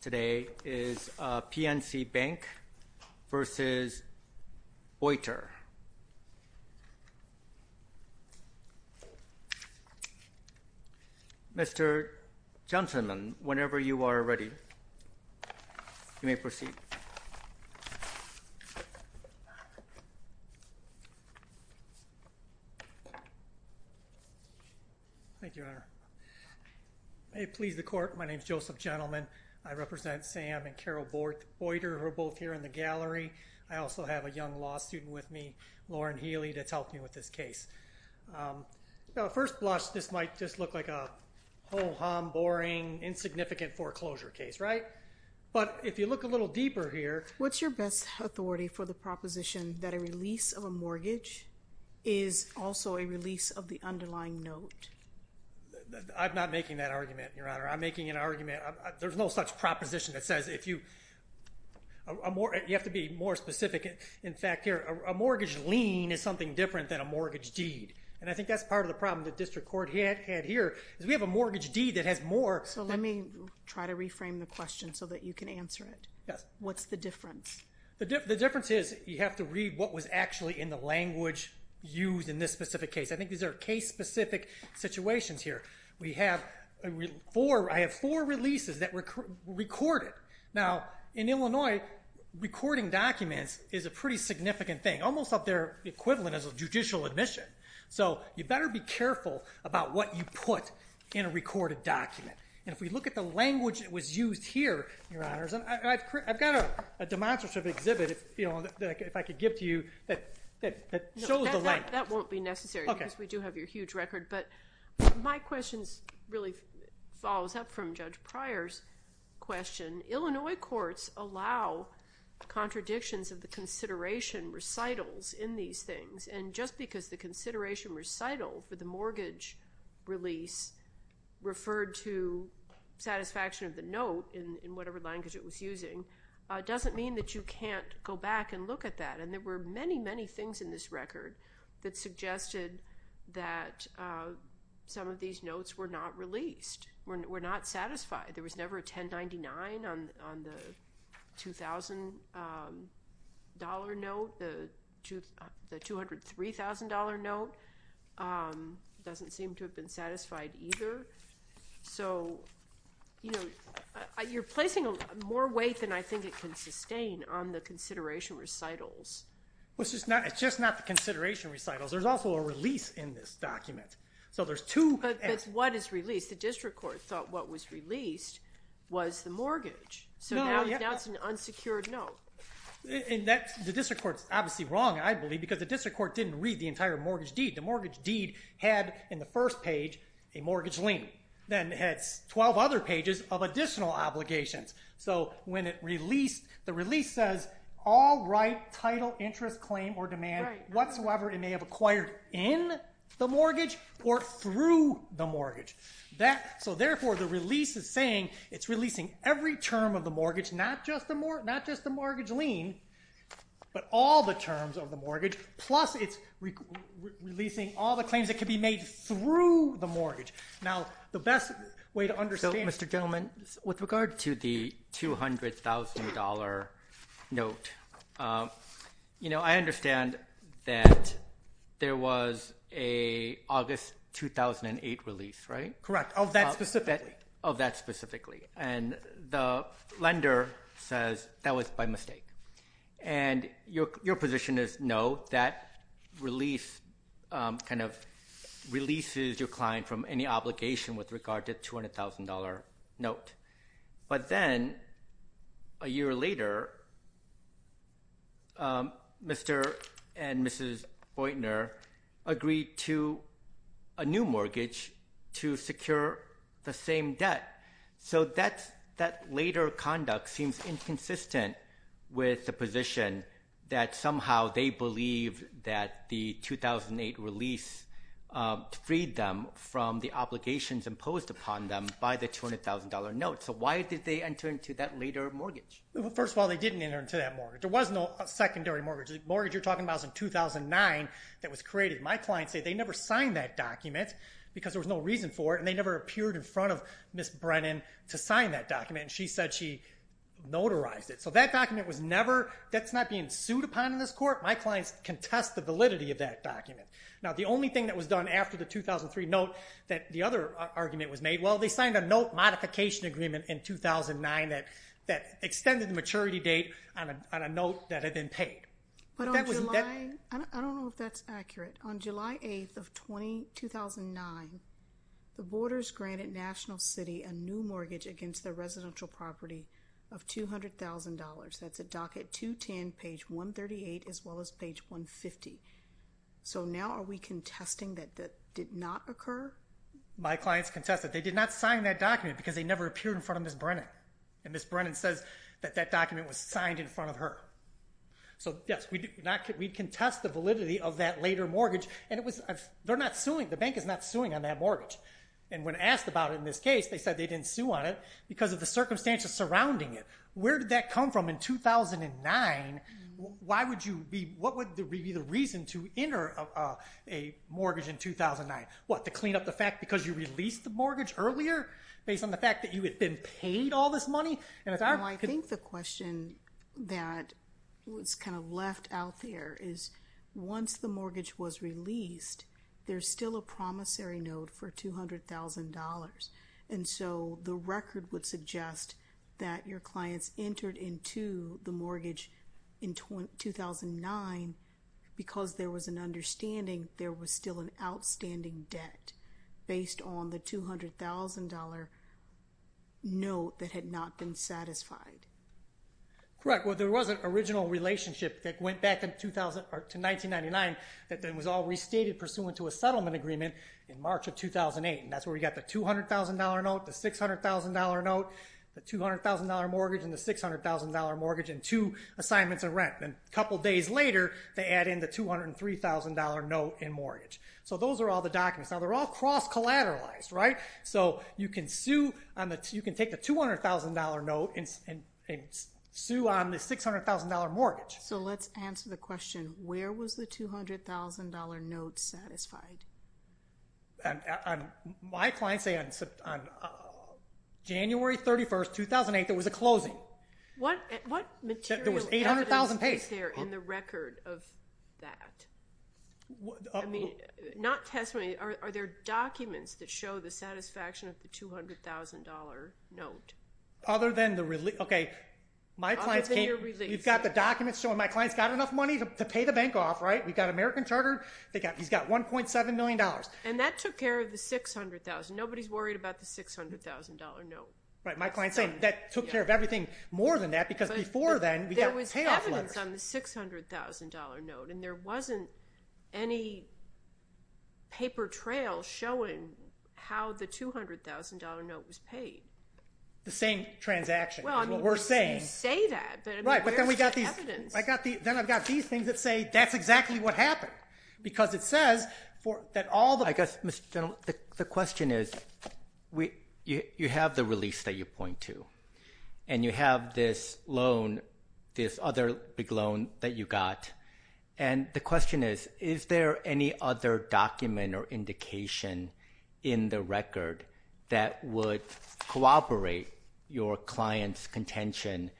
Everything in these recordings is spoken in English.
today is PNC Bank v. Boyter. Mr. Johnsonman, whenever you are ready, you may proceed. Thank you, Your Honor. May it please the court, my name is Joseph Jentleman. I represent Sam and Carol Boyter, who are both here in the gallery. I also have a young law student with me, Lauren Healy, that's helped me with this case. First blush, this might just look like a ho-hum, boring, insignificant foreclosure case, right? But if you look a little deeper here... What's your best authority for the proposition that a release of a mortgage is also a release of the underlying note? I'm not making that argument, Your Honor. I'm making an argument. There's no such proposition that says if you... You have to be more specific. In fact, here, a mortgage lien is something different than a mortgage deed. And I think that's part of the problem the district court had here, is we have a mortgage deed that has more... So let me try to reframe the question so that you can answer it. Yes. What's the difference? The difference is you have to read what was actually in the language used in this specific case. I think these are case-specific situations here. We have four... I have four releases that were recorded. Now, in Illinois, recording documents is a pretty significant thing. Almost up there, the equivalent is a judicial admission. So you better be careful about what you put in a recorded document. And if we look at the language that was used here, Your Honors, and I've got a demonstrative exhibit, if I could give to you, that shows the language. That won't be necessary because we do have your huge record. But my question really follows up from Judge Pryor's question. Illinois courts allow contradictions of the consideration recitals in these things. And just because the consideration recital for the mortgage release referred to satisfaction of the note in whatever language it was using, doesn't mean that you can't go back and look at that. And there were many, many things in this record that suggested that some of these notes were not released, were not satisfied. There was never a 1099 on the $2,000 note. The $203,000 note doesn't seem to have been satisfied. So you're placing more weight than I think it can sustain on the consideration recitals. It's just not the consideration recitals. There's also a release in this document. But what is released? The district court thought what was released was the mortgage. So now it's an unsecured note. The district court's obviously wrong, I believe, because the district deed had in the first page a mortgage lien. Then it has 12 other pages of additional obligations. So when it released, the release says all right title, interest, claim, or demand whatsoever it may have acquired in the mortgage or through the mortgage. So therefore the release is saying it's releasing every term of the mortgage, not just the mortgage lien, but all the terms of the mortgage, plus it's releasing all the claims that can be made through the mortgage. With regard to the $200,000 note, I understand that there was an August 2008 release, right? Correct. Of that specifically. The lender says that was by mistake. Your position is no, that release kind of releases your client from any obligation with regard to the $200,000 note. But then a year later, Mr. and Mrs. Oytner agreed to a new mortgage to secure the same debt. So that later conduct seems inconsistent with the position that somehow they believe that the 2008 release freed them from the obligations imposed upon them by the $200,000 note. So why did they enter into that later mortgage? First of all, they didn't enter into that mortgage. There was no secondary mortgage. The mortgage you're talking about was in 2009 that was created. My clients say they never signed that document because there was no reason for it and they never appeared in front of Ms. Brennan to sign that document and she said she notarized it. So that document was never, that's not being sued upon in this court. My clients contest the validity of that document. Now the only thing that was done after the 2003 note that the other argument was made, well, they signed a note modification agreement in 2009 that extended the maturity date on a note that had been paid. But on July, I don't know if that's accurate, on July 8th of 2009, the boarders granted National City a new mortgage against their residential property of $200,000. That's a docket 210, page 138, as well as page 150. So now are we contesting that that did not occur? My clients contest it. They did not sign that document because they never appeared in front of Ms. Brennan and Ms. Brennan says that that document was signed in front of her. So yes, we contest the validity of that later mortgage and they're not suing, the bank is not suing on that mortgage. And when asked about it in this case, they said they didn't sue on it because of the circumstances surrounding it. Where did that come from in 2009? Why would you be, what would be the reason to enter a mortgage in 2009? What, to clean up the fact because you released the mortgage earlier based on the fact that you had been paid all this money? I think the question that was kind of left out there is once the mortgage was released, there's still a promissory note for $200,000. And so the record would suggest that your clients entered into the mortgage in 2009 because there was an understanding there was still an outstanding debt based on the $200,000 note that had not been satisfied. Correct. Well, there was an original relationship that went back to 1999 that then was all restated pursuant to a settlement agreement in March of 2008. And that's where we got the $200,000 note, the $600,000 note, the $200,000 mortgage and the $600,000 mortgage and two assignments and rent. And a couple of days later, they add in the $203,000 note and mortgage. So those are all the documents. Now, they're all cross-collateralized, right? So you can sue on the, you can take the $200,000 note and sue on the $600,000 mortgage. So let's answer the question, where was the $200,000 note satisfied? My clients say on January 31st, 2008, there was a closing. What material evidence is there in the record of that? I mean, not testimony. Are there documents that show the satisfaction of the $200,000 note? Other than the release. Okay. My clients can't. Other than your release. You've got the documents showing my clients got enough money to pay the bank off, right? We've got American Charter. He's got $1.7 million. And that took care of the $600,000. Nobody's worried about the $600,000 note. Right. My client's saying that took care of everything more than that because before then, we got payoff letters. There was evidence on the $600,000 note and there wasn't any paper trail showing how the $200,000 note was paid. The same transaction is what we're saying. You say that, but where's the evidence? Then I've got these things that say that's exactly what happened because it says that all the I guess, Mr. General, the question is you have the release that you point to and you have this loan, this other big loan that you got. And the question is, is there any other document or indication in the record that would corroborate your client's contention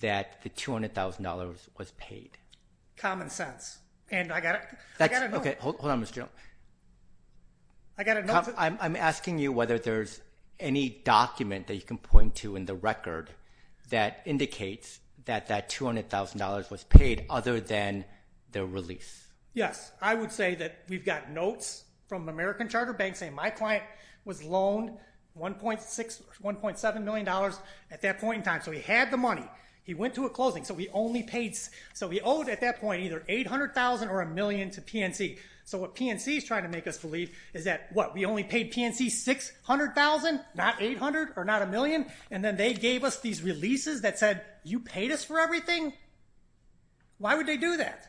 that the $200,000 was paid? Common sense. And I got a note. Hold on, Mr. General. I got a note. I'm asking you whether there's any document that you can point to in the record that indicates that that $200,000 was paid other than the release. Yes. I would say that we've got notes from American Charter banks saying my client was $1.7 million at that point in time. So he had the money. He went to a closing. So we owed at that point either $800,000 or a million to PNC. So what PNC is trying to make us believe is that, what, we only paid PNC $600,000, not $800,000 or not a million? And then they gave us these releases that said, you paid us for everything? Why would they do that?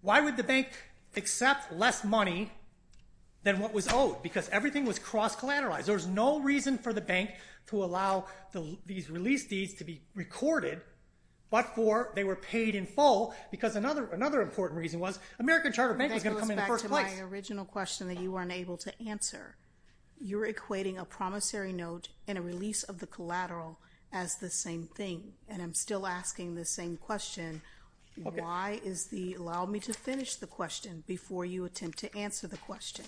Why would the bank accept less money than what was owed? Because everything was cross-collateralized. There was no reason for the bank to allow these release deeds to be recorded but for they were paid in full because another important reason was American Charter Bank was going to come in first place. This goes back to my original question that you weren't able to answer. You're equating a promissory note and a release of the collateral as the same thing. And I'm still asking the same question. Why is the – allow me to finish the question before you attempt to answer the question.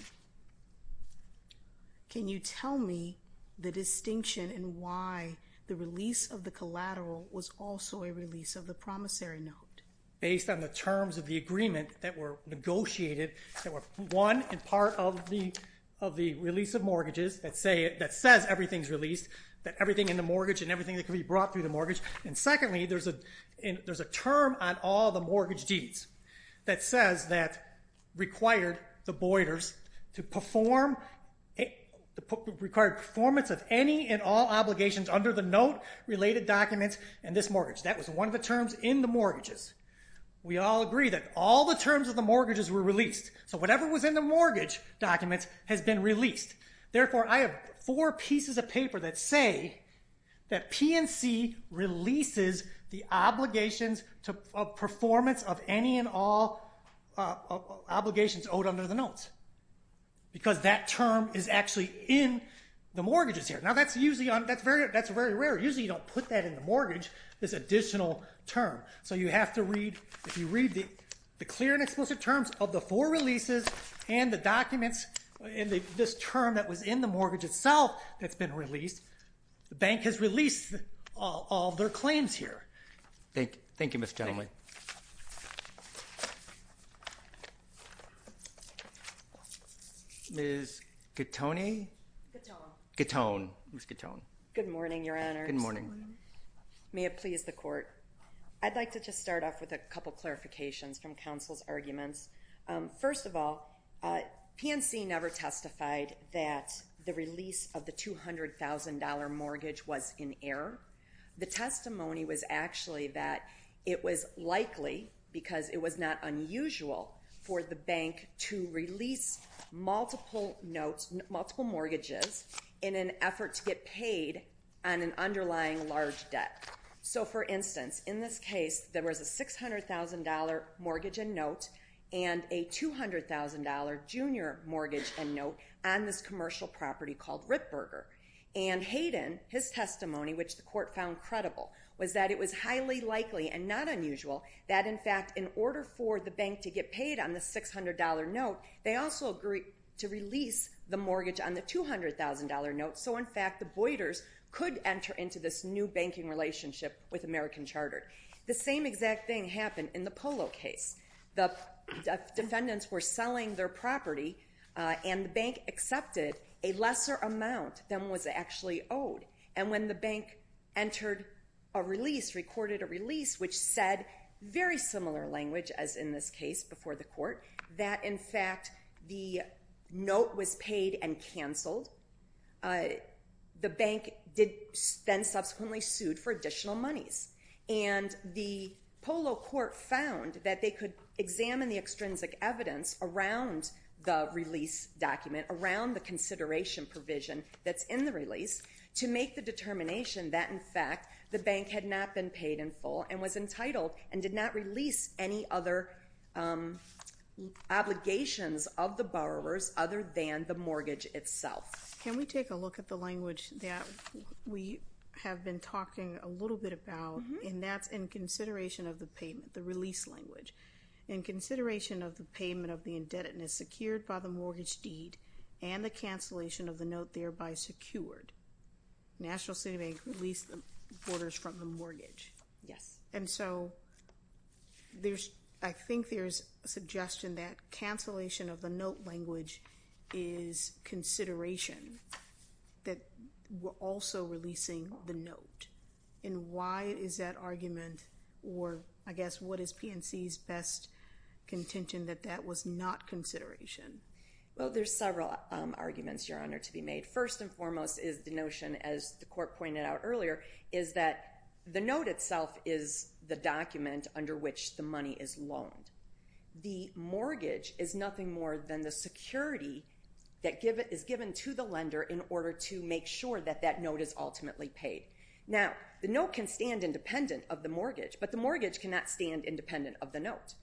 Can you tell me the distinction in why the release of the collateral was also a release of the promissory note? Based on the terms of the agreement that were negotiated that were one, in part, of the release of mortgages that says everything's released, that everything in the mortgage and everything that can be brought through the mortgage. And secondly, there's a term on all the mortgage deeds that says that required the performance of any and all obligations under the note-related documents in this mortgage. That was one of the terms in the mortgages. We all agree that all the terms of the mortgages were released. So whatever was in the mortgage documents has been released. Therefore, I have four pieces of paper that say that P&C releases the obligations of performance of any and all obligations owed under the notes because that term is actually in the mortgages here. Now, that's usually – that's very rare. Usually, you don't put that in the mortgage, this additional term. So you have to read – if you read the clear and explicit terms of the four releases and the documents in this term that was in the mortgage itself that's been released, the bank has released all of their claims here. Thank you, Mr. Chairman. Ms. Gattone? Gattone. Gattone. Ms. Gattone. Good morning, Your Honors. Good morning. May it please the Court. I'd like to just start off with a couple clarifications from counsel's arguments. First of all, P&C never testified that the release of the $200,000 mortgage was in error. The testimony was actually that it was likely because it was not unusual for the bank to release multiple notes – multiple mortgages in an effort to get paid on an underlying large debt. So, for instance, in this case, there was a $600,000 mortgage and note and a $200,000 junior mortgage and note on this commercial property called Ripburger. And Hayden, his testimony, which the Court found credible, was that it was highly likely and not unusual that, in fact, in order for the bank to get paid on the $600,000 note, they also agreed to release the mortgage on the $200,000 note so, in fact, the Boyders could enter into this new banking relationship with American Chartered. The same exact thing happened in the Polo case. The defendants were selling their property and the bank accepted a lesser amount than was actually owed. And when the bank entered a release, recorded a release, which said very similar language as in this case before the Court, that, in fact, the note was paid and canceled, the bank then subsequently sued for additional monies. And the Polo Court found that they could examine the extrinsic evidence around the release document, around the consideration provision that's in the release, to make the determination that, in fact, the bank had not been paid in full and was entitled and did not release any other obligations of the borrowers other than the mortgage itself. Can we take a look at the language that we have been talking a little bit about, and that's in consideration of the payment, the release language. In consideration of the payment of the indebtedness secured by the mortgage deed and the cancellation of the note thereby secured, National City Bank released the Borders from the mortgage. Yes. And so, I think there's a suggestion that cancellation of the note language is consideration that we're also releasing the note. And why is that argument or, I guess, what is PNC's best contention that that was not consideration? Well, there's several arguments, Your Honor, to be made. The first and foremost is the notion, as the Court pointed out earlier, is that the note itself is the document under which the money is loaned. The mortgage is nothing more than the security that is given to the lender in order to make sure that that note is ultimately paid. Now, the note can stand independent of the mortgage, but the mortgage cannot stand independent of the note.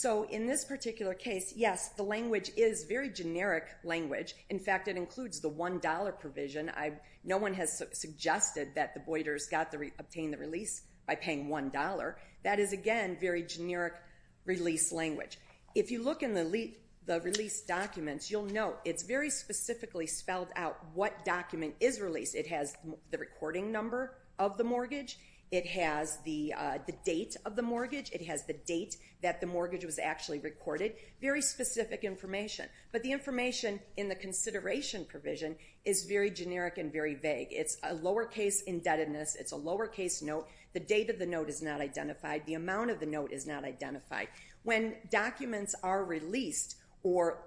So, in this particular case, yes, the language is very generic language. In fact, it includes the $1 provision. No one has suggested that the Borders got to obtain the release by paying $1. That is, again, very generic release language. If you look in the release documents, you'll note it's very specifically spelled out what document is released. It has the recording number of the mortgage. It has the date of the mortgage. It has the date that the mortgage was actually recorded. Very specific information. But the information in the consideration provision is very generic and very vague. It's a lowercase indebtedness. It's a lowercase note. The date of the note is not identified. The amount of the note is not identified. When documents are released or,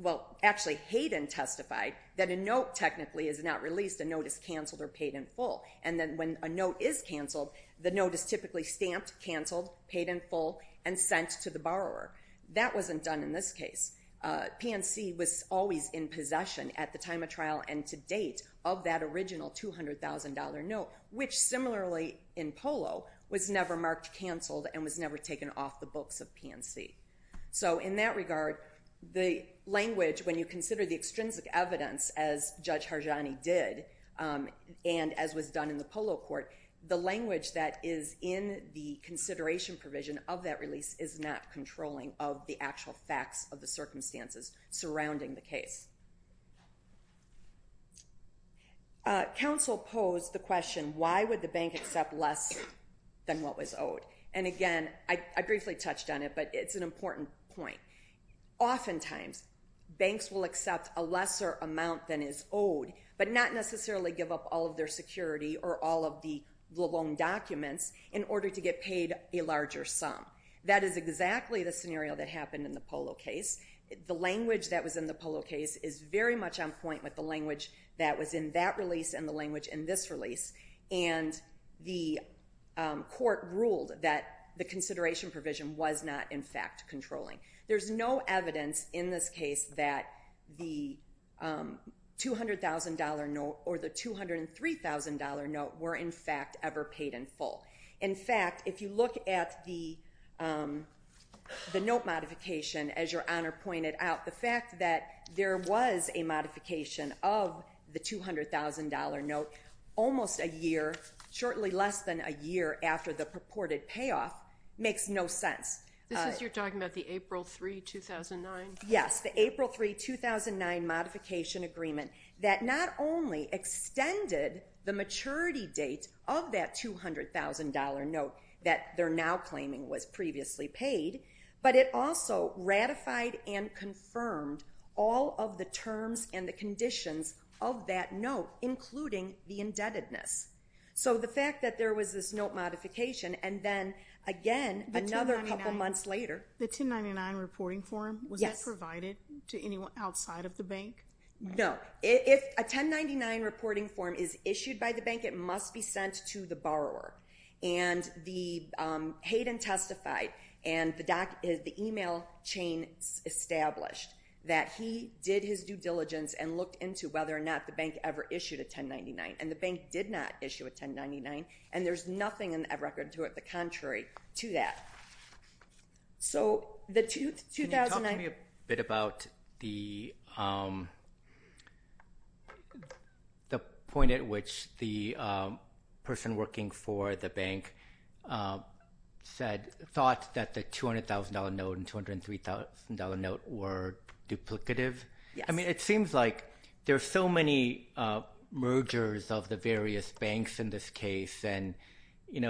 well, actually, Hayden testified that a note technically is not released. A note is canceled or paid in full. And then when a note is canceled, the note is typically stamped, canceled, paid in full, and sent to the borrower. That wasn't done in this case. PNC was always in possession at the time of trial and to date of that original $200,000 note, which, similarly in Polo, was never marked canceled and was never taken off the books of PNC. So, in that regard, the language, when you consider the extrinsic evidence, as Judge Dunn in the Polo Court, the language that is in the consideration provision of that release is not controlling of the actual facts of the circumstances surrounding the case. Counsel posed the question, why would the bank accept less than what was owed? And, again, I briefly touched on it, but it's an important point. Oftentimes, banks will accept a lesser amount than is owed, but not necessarily give up all of their security or all of the loan documents in order to get paid a larger sum. That is exactly the scenario that happened in the Polo case. The language that was in the Polo case is very much on point with the language that was in that release and the language in this release. And the court ruled that the consideration provision was not, in fact, controlling. There's no evidence in this case that the $200,000 note or the $203,000 note were, in fact, ever paid in full. In fact, if you look at the note modification, as Your Honor pointed out, the fact that there was a modification of the $200,000 note almost a year, shortly less than a year after the purported payoff, makes no sense. This is, you're talking about the April 3, 2009? Yes. The April 3, 2009 modification agreement that not only extended the maturity date of that $200,000 note that they're now claiming was previously paid, but it also ratified and confirmed all of the terms and the conditions of that note, including the indebtedness. So, the fact that there was this note modification, and then, again, another couple months later. The 1099 reporting form? Yes. Was that provided to anyone outside of the bank? No. If a 1099 reporting form is issued by the bank, it must be sent to the borrower. And Hayden testified, and the email chain established that he did his due diligence and looked into whether or not the bank ever issued a 1099. And the bank did not issue a 1099, and there's nothing in that record to it that's contrary to that. So, the 2009? Can you talk to me a bit about the point at which the person working for the bank thought that the $200,000 note and $203,000 note were duplicative? Yes. I mean, it seems like there's so many mergers of the various banks in this case, and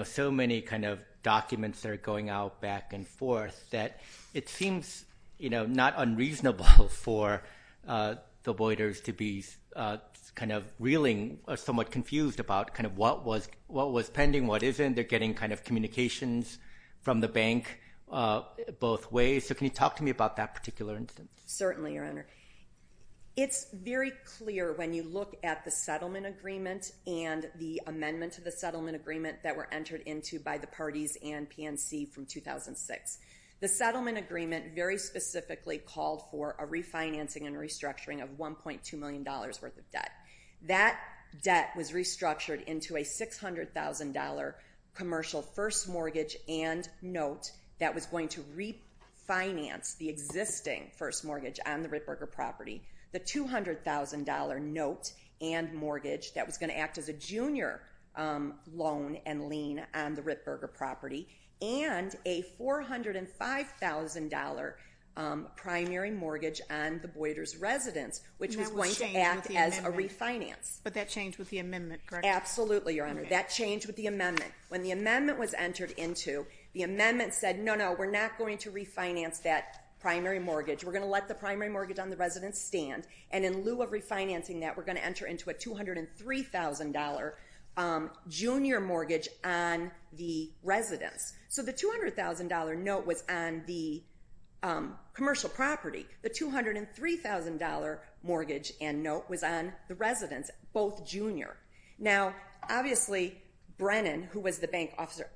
so many kind of documents that are going out back and forth, that it seems not unreasonable for the voiders to be kind of reeling or somewhat confused about kind of what was pending, what isn't. They're getting kind of communications from the bank both ways. So, can you talk to me about that particular instance? Certainly, Your Honor. It's very clear when you look at the settlement agreement and the amendment to the settlement agreement that were entered into by the parties and PNC from 2006. The settlement agreement very specifically called for a refinancing and restructuring of $1.2 million worth of debt. That debt was restructured into a $600,000 commercial first mortgage and note that was going to refinance the existing first mortgage on the Rittberger property, the $200,000 note and mortgage that was going to act as a junior loan and lien on the Rittberger property, and a $405,000 primary mortgage on the voiders' residence, which was going to act as a refinance. But that changed with the amendment, correct? Absolutely, Your Honor. That changed with the amendment. When the amendment was entered into, the amendment said, no, no, we're not going to refinance that primary mortgage. We're going to let the primary mortgage on the residence stand, and in lieu of refinancing that, we're going to enter into a $203,000 junior mortgage on the residence. So, the $200,000 note was on the commercial property. The $203,000 mortgage and note was on the residence, both junior. Now, obviously, Brennan, who was the bank officer,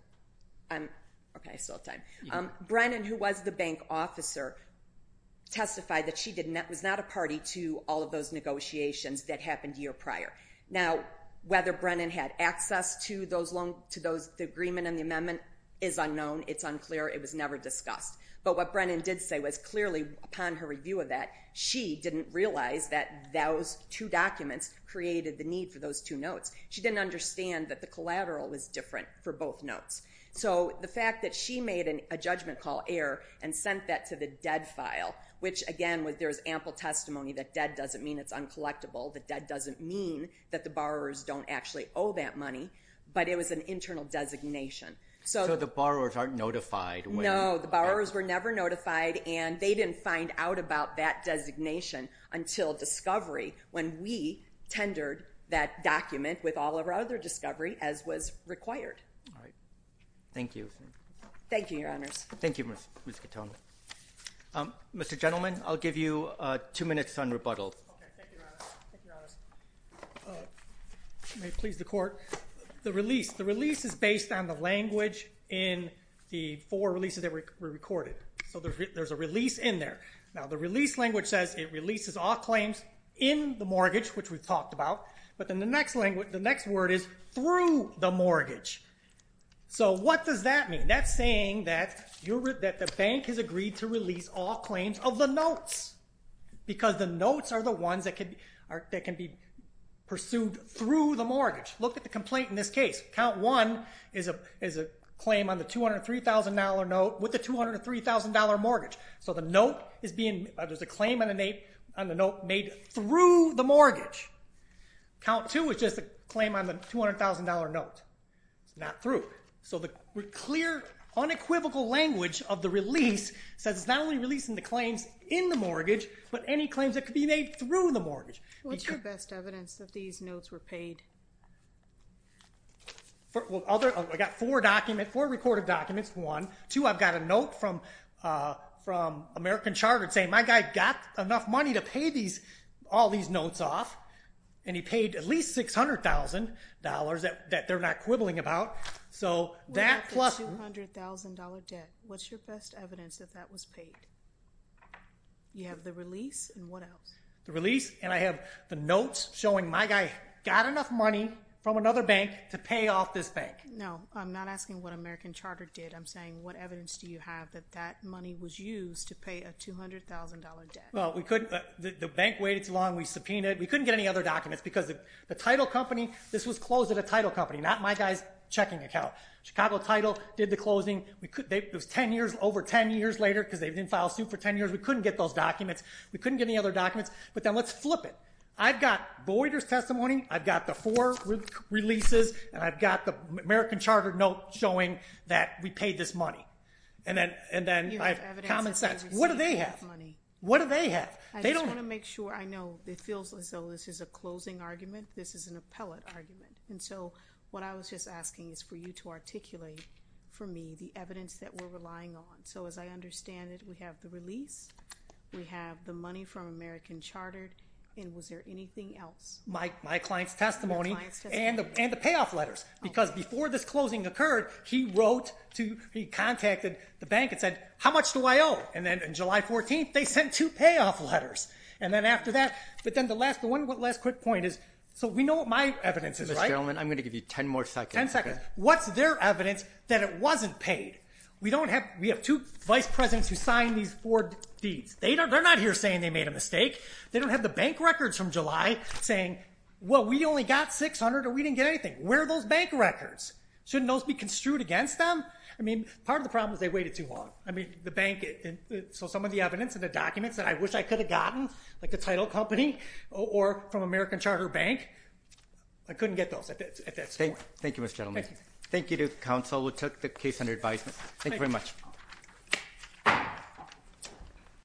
testified that she was not a party to all of those negotiations that happened a year prior. Now, whether Brennan had access to the agreement and the amendment is unknown. It's unclear. It was never discussed. But what Brennan did say was, clearly, upon her review of that, she didn't realize that those two documents created the need for those two notes. She didn't understand that the collateral was different for both notes. So, the fact that she made a judgment call error and sent that to the dead file, which, again, there's ample testimony that dead doesn't mean it's uncollectible, that dead doesn't mean that the borrowers don't actually owe that money, but it was an internal designation. So, the borrowers aren't notified? No. The borrowers were never notified, and they didn't find out about that designation until discovery, when we tendered that document with all of our other discovery, as was required. All right. Thank you. Thank you, Your Honors. Thank you, Ms. Katone. Mr. Gentleman, I'll give you two minutes on rebuttal. Okay. Thank you, Your Honor. Thank you, Your Honors. May it please the Court. The release. The release is based on the language in the four releases that were recorded. So, there's a release in there. Now, the release language says it releases all claims in the mortgage, which we've talked about, but then the next word is through the mortgage. So, what does that mean? That's saying that the bank has agreed to release all claims of the notes because the notes are the ones that can be pursued through the mortgage. Look at the complaint in this case. Count one is a claim on the $203,000 note with the $203,000 mortgage. So, there's a claim on the note made through the mortgage. Count two is just a claim on the $200,000 note. It's not through. So, the clear, unequivocal language of the release says it's not only releasing the claims in the mortgage, but any claims that could be made through the mortgage. What's your best evidence that these notes were paid? I've got four recorded documents, one. Two, I've got a note from American Chartered saying my guy got enough money to pay all these notes off, and he paid at least $600,000 that they're not quibbling about. So, that plus the $200,000 debt, what's your best evidence that that was paid? You have the release and what else? The release, and I have the notes showing my guy got enough money from another bank to pay off this bank. No, I'm not asking what American Chartered did. I'm saying what evidence do you have that that money was used to pay a $200,000 debt? Well, the bank waited too long. We subpoenaed it. We couldn't get any other documents because the title company, this was closed at a title company, not my guy's checking account. Chicago Title did the closing. It was over 10 years later because they didn't file a suit for 10 years. We couldn't get those documents. We couldn't get any other documents. But then let's flip it. I've got Boyder's testimony. I've got the four releases, and I've got the American Chartered note showing that we paid this money. And then I have common sense. What do they have? What do they have? I just want to make sure I know. It feels as though this is a closing argument. This is an appellate argument. And so, what I was just asking is for you to articulate for me the evidence that we're relying on. So, as I understand it, we have the release. We have the money from American Chartered. And was there anything else? My client's testimony and the payoff letters. Because before this closing occurred, he wrote to, he contacted the bank and said, how much do I owe? And then on July 14th, they sent two payoff letters. And then after that, but then the one last quick point is, so we know what my evidence is, right? Mr. Gelman, I'm going to give you 10 more seconds. 10 seconds. What's their evidence that it wasn't paid? We have two vice presidents who signed these four deeds. They're not here saying they made a mistake. They don't have the bank records from July saying, well, we only got 600 or we didn't get anything. Where are those bank records? Shouldn't those be construed against them? I mean, part of the problem is they waited too long. I mean, the bank, so some of the evidence and the documents that I wish I could have gotten, like the title company or from American Chartered Bank, I couldn't get those at that point. Thank you, Mr. Gelman. Thank you. Thank you to counsel who took the case under advisement. Thank you very much.